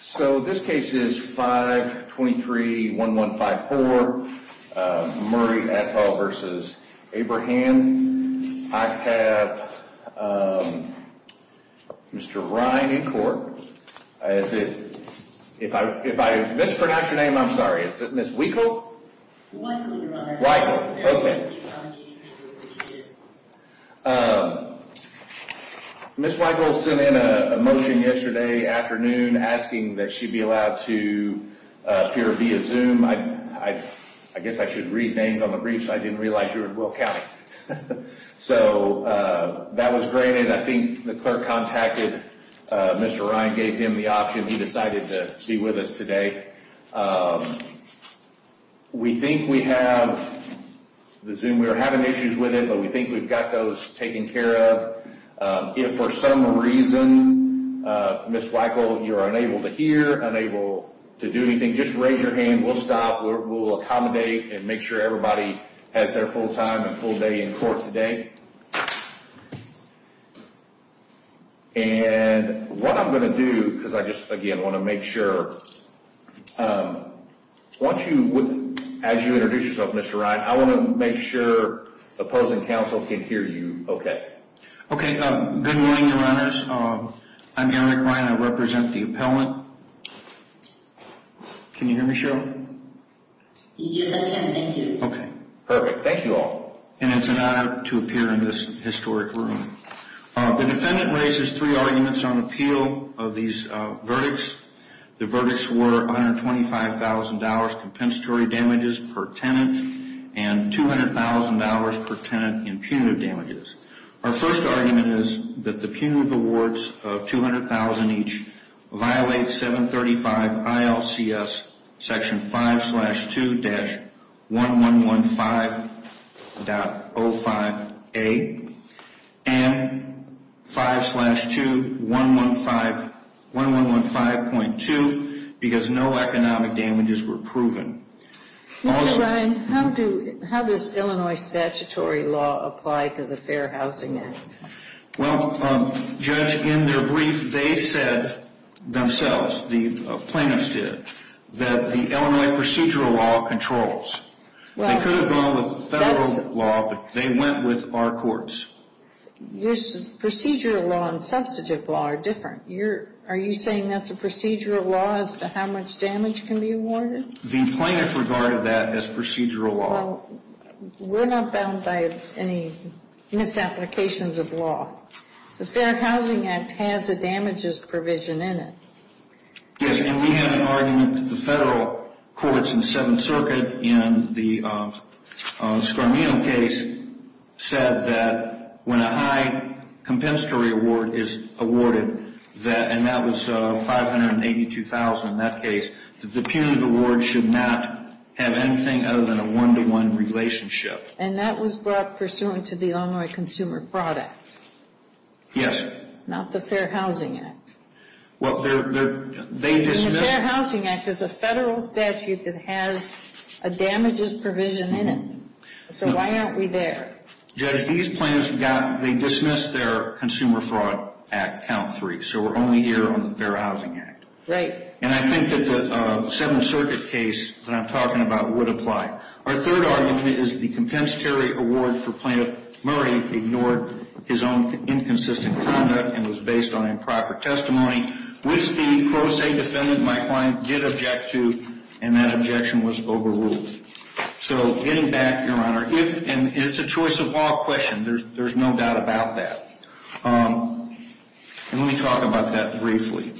So this case is 523-1154, Murray et al. v. Abrahan. I have Mr. Ryan in court. If I mispronounce your name, I'm sorry, is it Ms. Wiechel? Wiechel, your honor. Wiechel, okay. Ms. Wiechel sent in a motion yesterday afternoon asking that she be allowed to appear via Zoom. I guess I should read names on the briefs. I didn't realize you were in Will County. So that was granted. I think the clerk contacted Mr. Ryan, gave him the option. He decided to be with us today. We think we have the Zoom. We're having issues with it, but we think we've got those taken care of. If for some reason, Ms. Wiechel, you're unable to hear, unable to do anything, just raise your hand. We'll stop. We'll accommodate and make sure everybody has their full time and full day in court today. And what I'm going to do, because I just, again, want to make sure, once you, as you introduce yourself, Mr. Ryan, I want to make sure opposing counsel can hear you okay. Okay. Good morning, your honors. I'm Eric Ryan. I represent the appellant. Can you hear me, Cheryl? Yes, I can. Thank you. Okay. Perfect. Thank you all. And it's an honor to appear in this historic room. The defendant raises three arguments on appeal of these verdicts. The verdicts were $125,000 compensatory damages per tenant and $200,000 per tenant in punitive damages. Our first argument is that the punitive awards of $200,000 each violate 735 ILCS Section 5-2-1115.05A and 5-2-1115.2 because no economic damages were proven. Mr. Ryan, how does Illinois statutory law apply to the Fair Housing Act? Well, Judge, in their brief, they said themselves, the plaintiffs did, that the Illinois procedural law controls. They could have gone with federal law, but they went with our courts. Procedural law and substantive law are different. Are you saying that's a procedural law as to how much damage can be awarded? The plaintiffs regarded that as procedural law. Well, we're not bound by any misapplications of law. The Fair Housing Act has a damages provision in it. Yes, and we have an argument that the federal courts in the Seventh Circuit in the Scarmino case said that when a high compensatory award is awarded, and that was $582,000 in that case, that the punitive award should not have anything other than a one-to-one relationship. And that was brought pursuant to the Illinois Consumer Fraud Act? Yes. Not the Fair Housing Act? Well, they dismissed... And the Fair Housing Act is a federal statute that has a damages provision in it, so why aren't we there? Judge, these plaintiffs dismissed their Consumer Fraud Act count three, so we're only here on the Fair Housing Act. Right. And I think that the Seventh Circuit case that I'm talking about would apply. Our third argument is the compensatory award for Plaintiff Murray ignored his own inconsistent conduct and was based on improper testimony, which the pro se defendant, my client, did object to, and that objection was overruled. So getting back, Your Honor, and it's a choice of law question. There's no doubt about that. And let me talk about that briefly.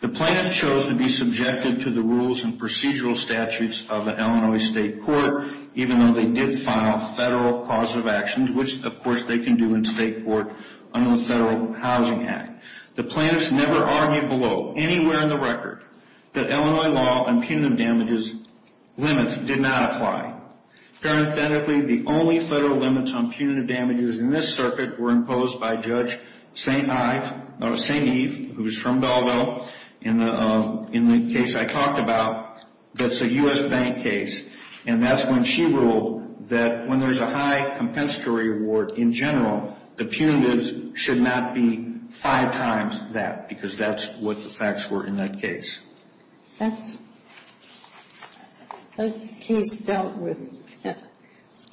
The plaintiff chose to be subjected to the rules and procedural statutes of an Illinois state court, even though they did file federal causative actions, which, of course, they can do in state court under the Federal Housing Act. The plaintiffs never argued below, anywhere in the record, that Illinois law and punitive damages limits did not apply. Parenthetically, the only federal limits on punitive damages in this circuit were imposed by Judge St. Eve, who's from Belleville, in the case I talked about that's a U.S. bank case, and that's when she ruled that when there's a high compensatory award in general, the punitives should not be five times that because that's what the facts were in that case. That's a case dealt with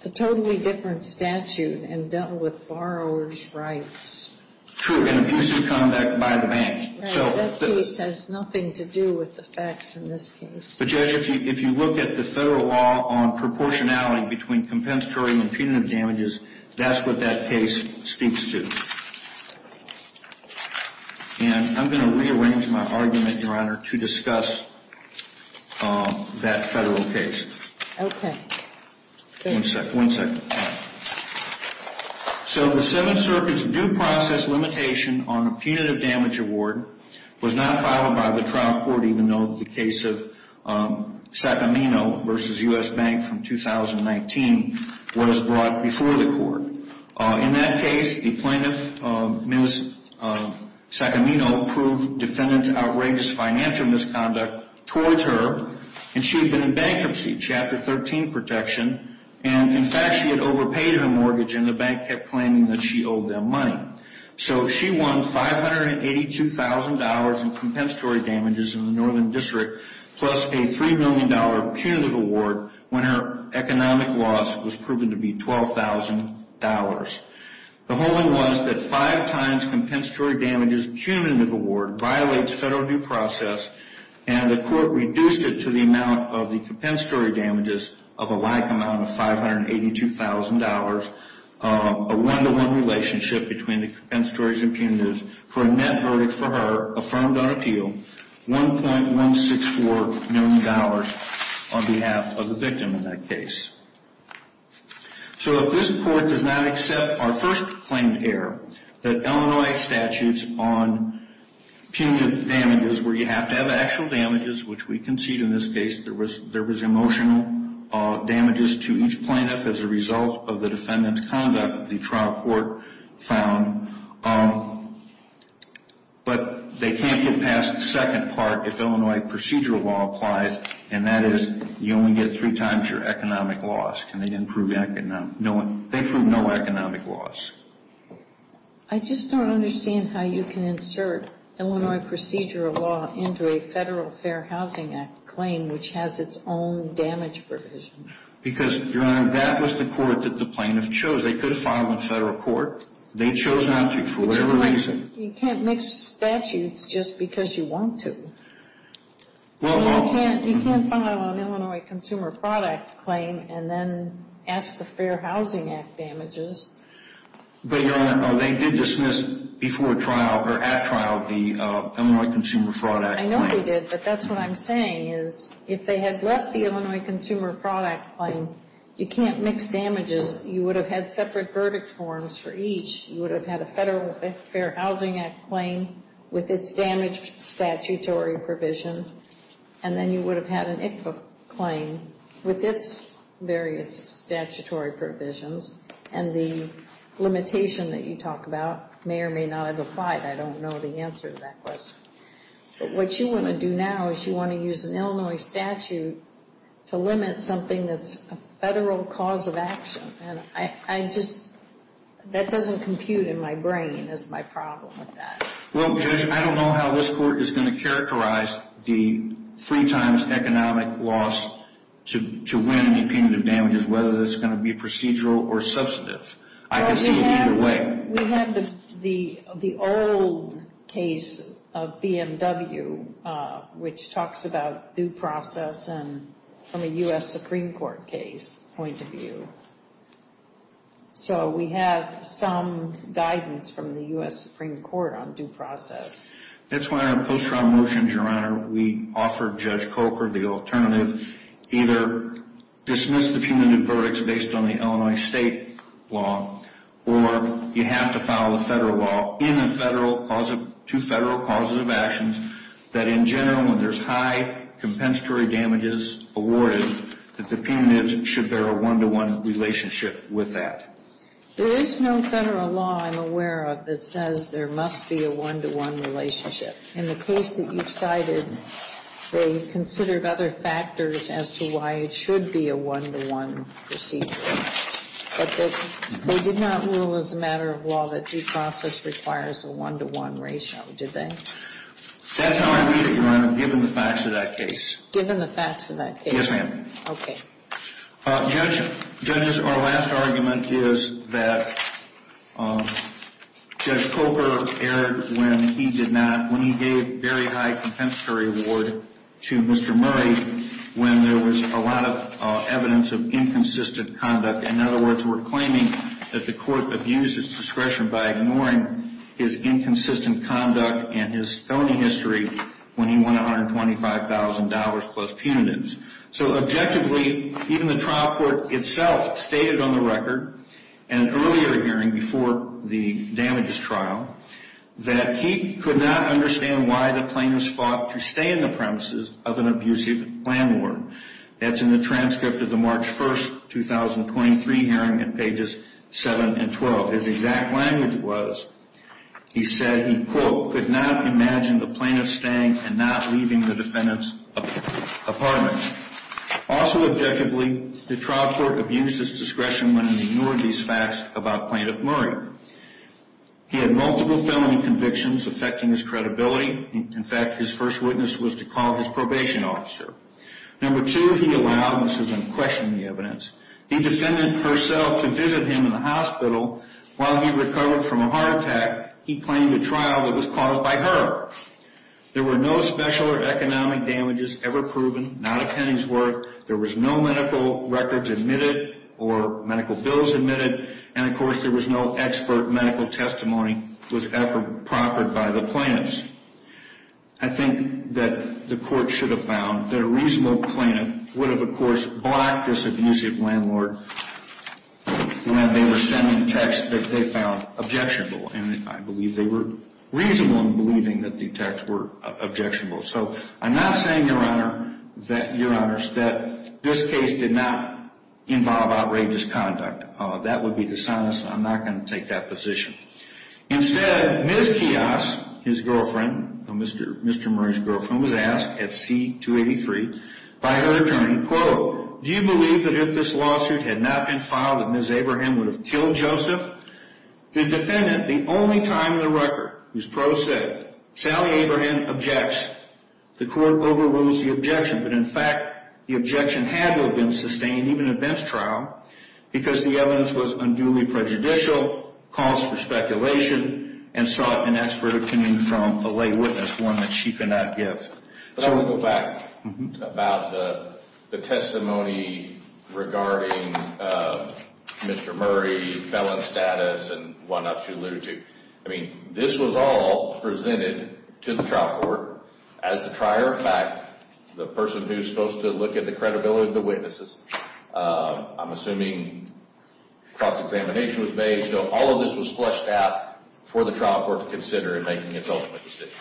a totally different statute and dealt with borrower's rights. True, and abusive conduct by the bank. That case has nothing to do with the facts in this case. But, Judge, if you look at the federal law on proportionality between compensatory and punitive damages, that's what that case speaks to. And I'm going to rearrange my argument, Your Honor, to discuss that federal case. Okay. One second. One second. So the Seventh Circuit's due process limitation on a punitive damage award was not filed by the trial court, even though the case of Sacamino v. U.S. Bank from 2019 was brought before the court. In that case, the plaintiff, Ms. Sacamino, proved defendant's outrageous financial misconduct towards her, and she had been in bankruptcy, Chapter 13 protection. And, in fact, she had overpaid her mortgage, and the bank kept claiming that she owed them money. So she won $582,000 in compensatory damages in the Northern District, plus a $3 million punitive award when her economic loss was proven to be $12,000. The holding was that five times compensatory damages punitive award violates federal due process, and the court reduced it to the amount of the compensatory damages of a like amount of $582,000, a one-to-one relationship between the compensatory and punitives, for a net verdict for her, affirmed on appeal, $1.164 million on behalf of the victim in that case. So if this court does not accept our first claim here, that Illinois statutes on punitive damages where you have to have actual damages, which we concede in this case, there was emotional damages to each plaintiff as a result of the defendant's conduct, the trial court found. But they can't get past the second part if Illinois procedural law applies, and that is you only get three times your economic loss. They prove no economic loss. I just don't understand how you can insert Illinois procedural law into a Federal Fair Housing Act claim which has its own damage provision. Because, Your Honor, that was the court that the plaintiff chose. They could have filed in federal court. They chose not to for whatever reason. You can't mix statutes just because you want to. You can't file an Illinois Consumer Fraud Act claim and then ask the Fair Housing Act damages. But, Your Honor, they did dismiss before trial, or at trial, the Illinois Consumer Fraud Act claim. I know they did, but that's what I'm saying is if they had left the Illinois Consumer Fraud Act claim, you can't mix damages. You would have had separate verdict forms for each. You would have had a Federal Fair Housing Act claim with its damage statutory provision, and then you would have had an ICFA claim with its various statutory provisions. And the limitation that you talk about may or may not have applied. I don't know the answer to that question. But what you want to do now is you want to use an Illinois statute to limit something that's a federal cause of action. And I just, that doesn't compute in my brain as my problem with that. Well, Judge, I don't know how this court is going to characterize the three times economic loss to win any punitive damages, whether that's going to be procedural or substantive. I can see it either way. We have the old case of BMW, which talks about due process from a U.S. Supreme Court case point of view. So we have some guidance from the U.S. Supreme Court on due process. That's why in our post-trial motions, Your Honor, we offered Judge Coker the alternative, either dismiss the punitive verdicts based on the Illinois state law, or you have to file a federal law in a federal cause of, two federal causes of actions, that in general when there's high compensatory damages awarded, that the punitives should bear a one-to-one relationship with that. There is no federal law I'm aware of that says there must be a one-to-one relationship. In the case that you've cited, they considered other factors as to why it should be a one-to-one procedure. But they did not rule as a matter of law that due process requires a one-to-one ratio, did they? That's how I read it, Your Honor, given the facts of that case. Given the facts of that case? Yes, ma'am. Okay. Judge, our last argument is that Judge Coker erred when he did not, when he gave very high compensatory reward to Mr. Murray, when there was a lot of evidence of inconsistent conduct. In other words, we're claiming that the court abused his discretion by ignoring his inconsistent conduct and his felony history when he won $125,000 plus punitives. So, objectively, even the trial court itself stated on the record in an earlier hearing before the damages trial that he could not understand why the plaintiffs fought to stay in the premises of an abusive landlord. That's in the transcript of the March 1, 2023 hearing in pages 7 and 12. His exact language was, he said he, quote, could not imagine the plaintiffs staying and not leaving the defendant's apartment. Also, objectively, the trial court abused his discretion when he ignored these facts about Plaintiff Murray. He had multiple felony convictions affecting his credibility. In fact, his first witness was to call his probation officer. Number two, he allowed, and this is unquestionably evidence, the defendant herself to visit him in the hospital while he recovered from a heart attack. In fact, he claimed a trial that was caused by her. There were no special or economic damages ever proven, not a penny's worth. There was no medical records admitted or medical bills admitted. And, of course, there was no expert medical testimony was ever proffered by the plaintiffs. I think that the court should have found that a reasonable plaintiff would have, of course, blocked this abusive landlord when they were sending texts that they found objectionable. And I believe they were reasonable in believing that the texts were objectionable. So I'm not saying, Your Honor, that this case did not involve outrageous conduct. That would be dishonest. I'm not going to take that position. Instead, Ms. Kios, his girlfriend, Mr. Murray's girlfriend, was asked at C-283 by her attorney, quote, Do you believe that if this lawsuit had not been filed that Ms. Abraham would have killed Joseph? The defendant, the only time in the record whose prose said, Sally Abraham objects, the court overrules the objection. But, in fact, the objection had to have been sustained, even at Ben's trial, because the evidence was unduly prejudicial, calls for speculation, and sought an expert opinion from the lay witness, one that she could not give. I want to go back about the testimony regarding Mr. Murray's felon status and why not she alluded to. I mean, this was all presented to the trial court. As a prior fact, the person who's supposed to look at the credibility of the witnesses, I'm assuming cross-examination was made. So all of this was flushed out for the trial court to consider in making its ultimate decision.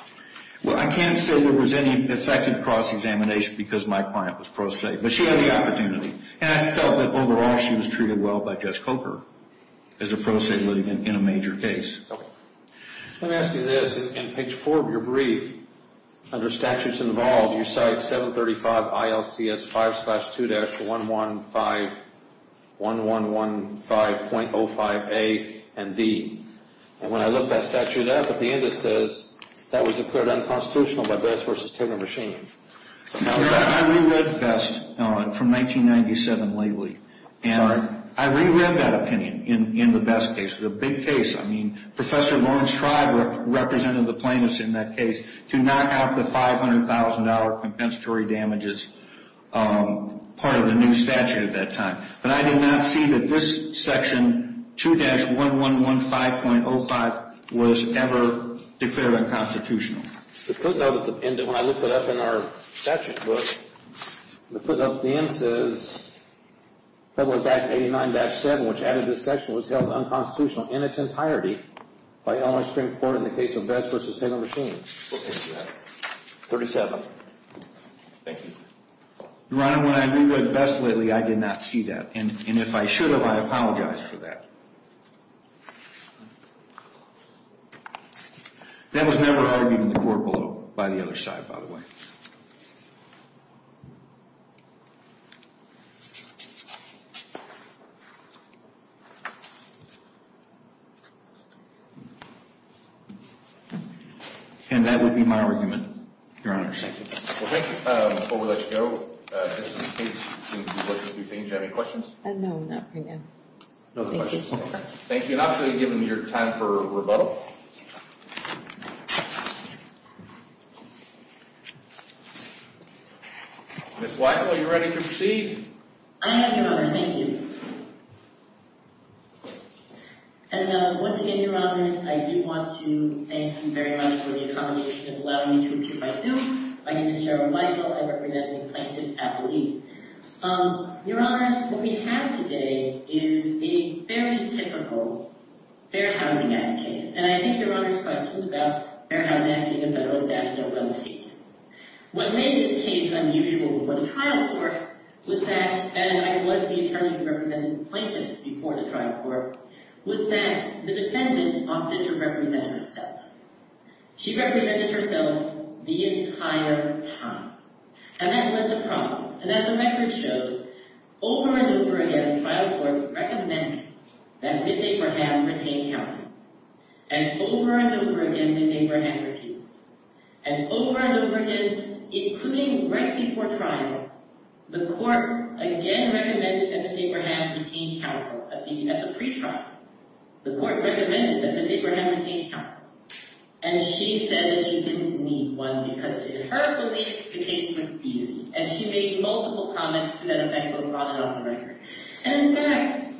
Well, I can't say there was any effective cross-examination because my client was prose, but she had the opportunity. And I felt that, overall, she was treated well by Judge Coker as a prose litigant in a major case. Let me ask you this. In page 4 of your brief, under Statutes Involved, you cite 735 ILCS 5-2-1115.05a and d. And when I looked that statute up, at the end it says that was declared unconstitutional by Best v. Timber Machine. I reread Best from 1997 lately. And I reread that opinion in the Best case. It's a big case. I mean, Professor Lawrence Tribe represented the plaintiffs in that case to knock out the $500,000 compensatory damages, part of the new statute at that time. But I did not see that this section, 2-1115.05, was ever declared unconstitutional. The footnote at the end of it, when I looked it up in our statute book, the footnote at the end says Federal Act 89-7, which added this section, was held unconstitutional in its entirety by Illinois Supreme Court in the case of Best v. Timber Machine. 37. Thank you. Your Honor, when I read Best lately, I did not see that. And if I should have, I apologize for that. That was never argued in the court below, by the other side, by the way. And that would be my argument, Your Honor. Thank you. Well, thank you. Before we let you go, just in case you want to do things, do you have any questions? No, not right now. No questions. Thank you, Your Honor. And I'm going to give them your time for rebuttal. Ms. Weigel, are you ready to proceed? I am, Your Honor. Thank you. And once again, Your Honor, I do want to thank you very much for the accommodation of allowing me to appear by Zoom. My name is Cheryl Weigel. I represent the plaintiffs at the lease. Your Honor, what we have today is a very typical Fair Housing Act case. And I think Your Honor's questions about Fair Housing Act being a federal statute are well taken. What made this case unusual for the trial court was that, and I was the attorney who represented the plaintiffs before the trial court, was that the defendant opted to represent herself. She represented herself the entire time. And that was a problem. And as the record shows, over and over again, the trial court recommended that Ms. Abraham retain counsel. And over and over again, Ms. Abraham refused. And over and over again, including right before trial, the court again recommended that Ms. Abraham retain counsel. At the pre-trial, the court recommended that Ms. Abraham retain counsel. And she said that she didn't need one because, in her belief, the case was easy. And she made multiple comments to the defendant on and off the record. And in fact,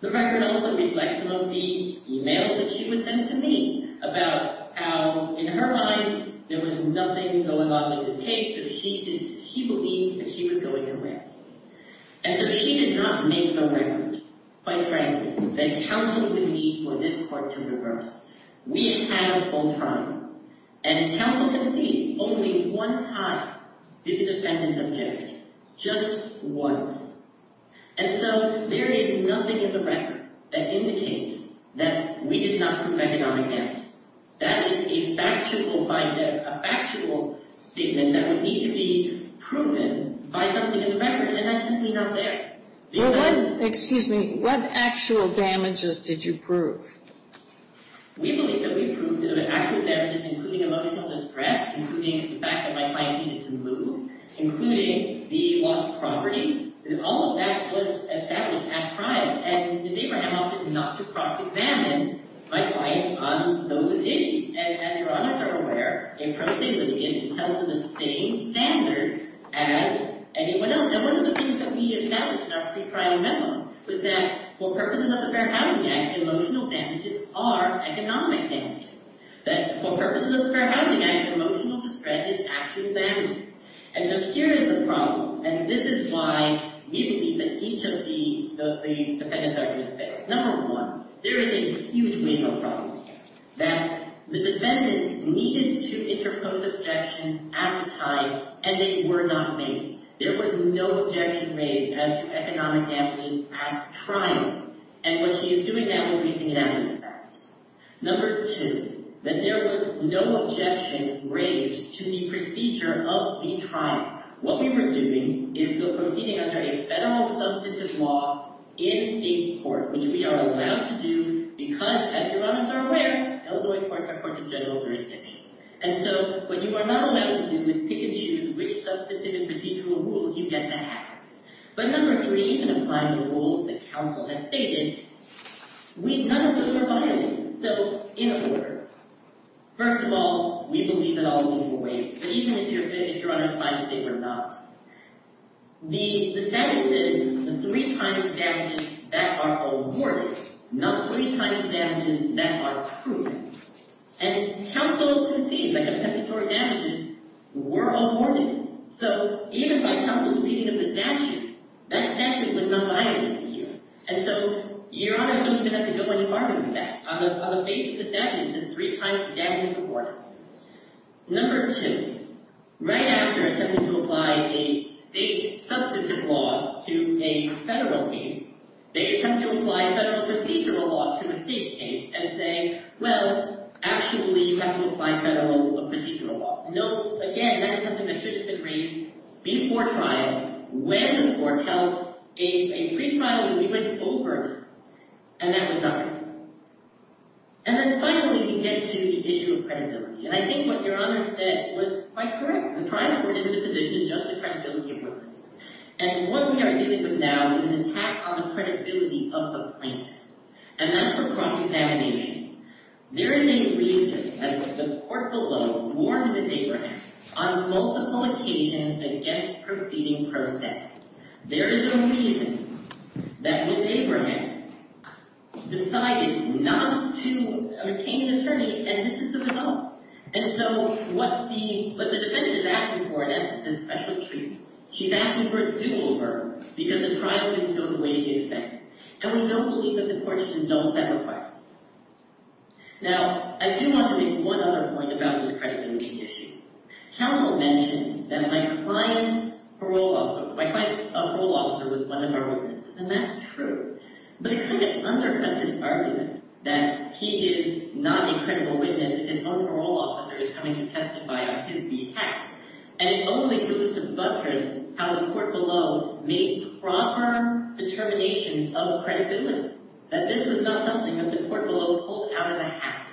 the record also reflects some of the emails that she would send to me about how, in her mind, there was nothing going on in this case that she believed that she was going to win. And so she did not make the record, quite frankly, that counsel would need for this court to reverse. We have had a full trial. And counsel concedes only one time the defendant objected, just once. And so there is nothing in the record that indicates that we did not prove economic damages. That is a factual statement that would need to be proven by something in the record. And that's simply not there. Excuse me. What actual damages did you prove? We believe that we proved that an actual damage, including emotional distress, including the fact that my client needed to move, including the loss of property, that all of that was established at trial. And Ms. Abraham also did not just cross-examine my client on those issues. And as Your Honors are aware, a prosigilient is held to the same standard as anyone else. And one of the things that we established in our pre-trial memo was that for purposes of the Fair Housing Act, emotional damages are economic damages. That for purposes of the Fair Housing Act, emotional distress is actual damages. And so here is the problem. And this is why we believe that each of the defendant's arguments fails. Number one, there is a huge legal problem that the defendant needed to interpose objections at the time, and they were not made. There was no objection made as to economic damages at trial. And what she is doing now is raising an avenue for that. Number two, that there was no objection raised to the procedure of the trial. What we were doing is proceeding under a federal substantive law in state court, which we are allowed to do because, as Your Honors are aware, Illinois courts are courts of general jurisdiction. And so what you are not allowed to do is pick and choose which substantive procedural rules you get to have. But number three, in applying the rules that counsel has stated, we none of those were violated. So, in a word, first of all, we believe that all of those were waived. But even if Your Honors find that they were not, the status is three times damages that are awarded, not three times damages that are approved. And counsel concedes that compensatory damages were awarded. So even by counsel's reading of the statute, that statute was not violated here. And so Your Honors don't even have to go into farming with that. On the basis of the statute, it's just three times the damages awarded. Number two, right after attempting to apply a state substantive law to a federal case, they attempt to apply federal procedural law to a state case and say, well, actually, you have to apply federal procedural law. No, again, that is something that should have been raised before trial, when the court held a pre-trial when we went over this. And that was not reasonable. And then finally, we get to the issue of credibility. And I think what Your Honors said was quite correct. The trial court is in a position to judge the credibility of witnesses. And what we are dealing with now is an attack on the credibility of the plaintiff. And that's a cross-examination. There is a reason that the court below warned Ms. Abraham on multiple occasions against proceeding per se. There is a reason that Ms. Abraham decided not to obtain an attorney, and this is the result. And so what the defendant is asking for is special treatment. She's asking for a dual burden, because the trial didn't go the way she expected. And we don't believe that the court should have done that request. Now, I do want to make one other point about this credibility issue. Counsel mentioned that my client's parole officer was one of our witnesses, and that's true. But it kind of undercuts his argument that he is not a credible witness, his own parole officer is coming to testify on his behalf. And it only goes to buttress how the court below made proper determinations of credibility, that this was not something that the court below pulled out of the hat.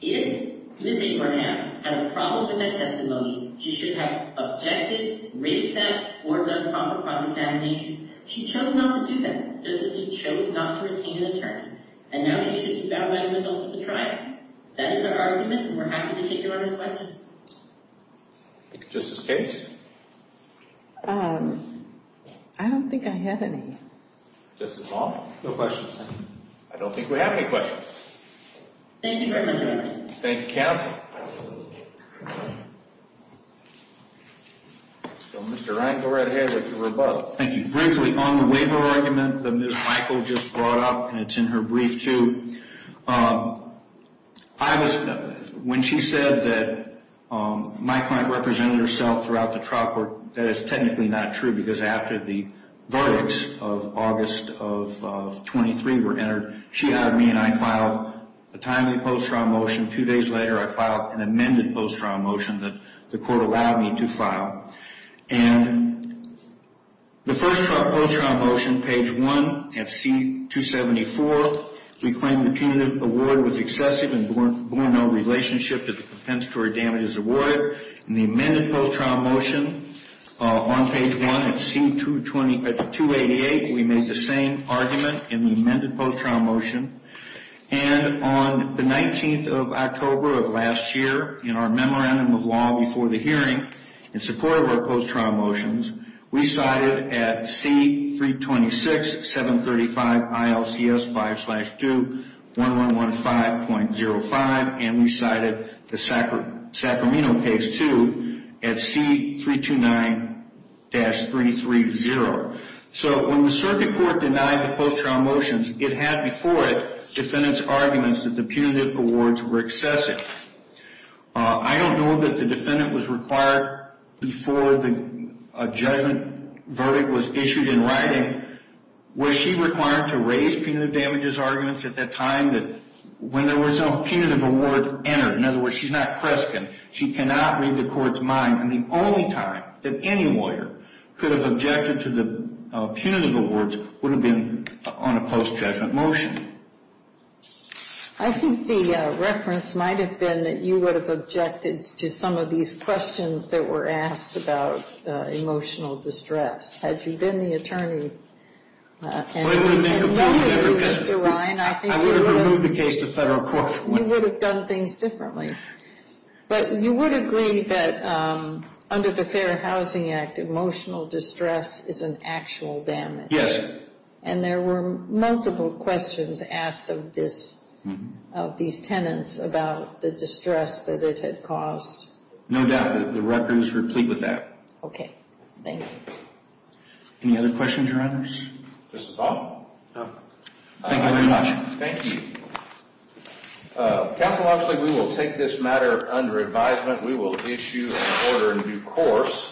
If Ms. Abraham had a problem with that testimony, she should have objected, raised that, or done proper cross-examination. She chose not to do that, just as she chose not to retain an attorney. And now she needs to be found by the results of the trial. That is our argument, and we're happy to take your other questions. Justice Case? I don't think I have any. Justice Long? No questions. I don't think we have any questions. Thank you very much. Thank you, counsel. Mr. Ryan, go right ahead with your rebuttal. Thank you. Briefly, on the waiver argument that Ms. Michael just brought up, and it's in her brief, too, I was, when she said that my client represented herself throughout the trial court, that is technically not true, because after the verdicts of August of 23 were entered, she hired me and I filed a timely post-trial motion. Two days later, I filed an amended post-trial motion that the court allowed me to file. And the first post-trial motion, page 1, at C-274, we claim the punitive award was excessive and bore no relationship to the compensatory damages award. In the amended post-trial motion on page 1 at C-288, we made the same argument in the amended post-trial motion. And on the 19th of October of last year, in our memorandum of law before the hearing, in support of our post-trial motions, we cited at C-326-735-ILCS-5-2-1115.05, and we cited the Sacramento case, too, at C-329-330. So when the circuit court denied the post-trial motions, it had before it defendants' arguments that the punitive awards were excessive. I don't know that the defendant was required before a judgment verdict was issued in writing. Was she required to raise punitive damages arguments at that time when there was no punitive award entered? In other words, she's not Preskin. She cannot read the court's mind. And the only time that any lawyer could have objected to the punitive awards would have been on a post-judgment motion. I think the reference might have been that you would have objected to some of these questions that were asked about emotional distress. Had you been the attorney and known as Mr. Ryan, I think you would have done things differently. But you would agree that under the Fair Housing Act, emotional distress is an actual damage. Yes. And there were multiple questions asked of these tenants about the distress that it had caused. No doubt. The record was complete with that. Okay. Thank you. Any other questions, Your Honors? Mr. Baum? No. Thank you very much. Thank you. Counsel Oxley, we will take this matter under advisement. We will issue and order a new course.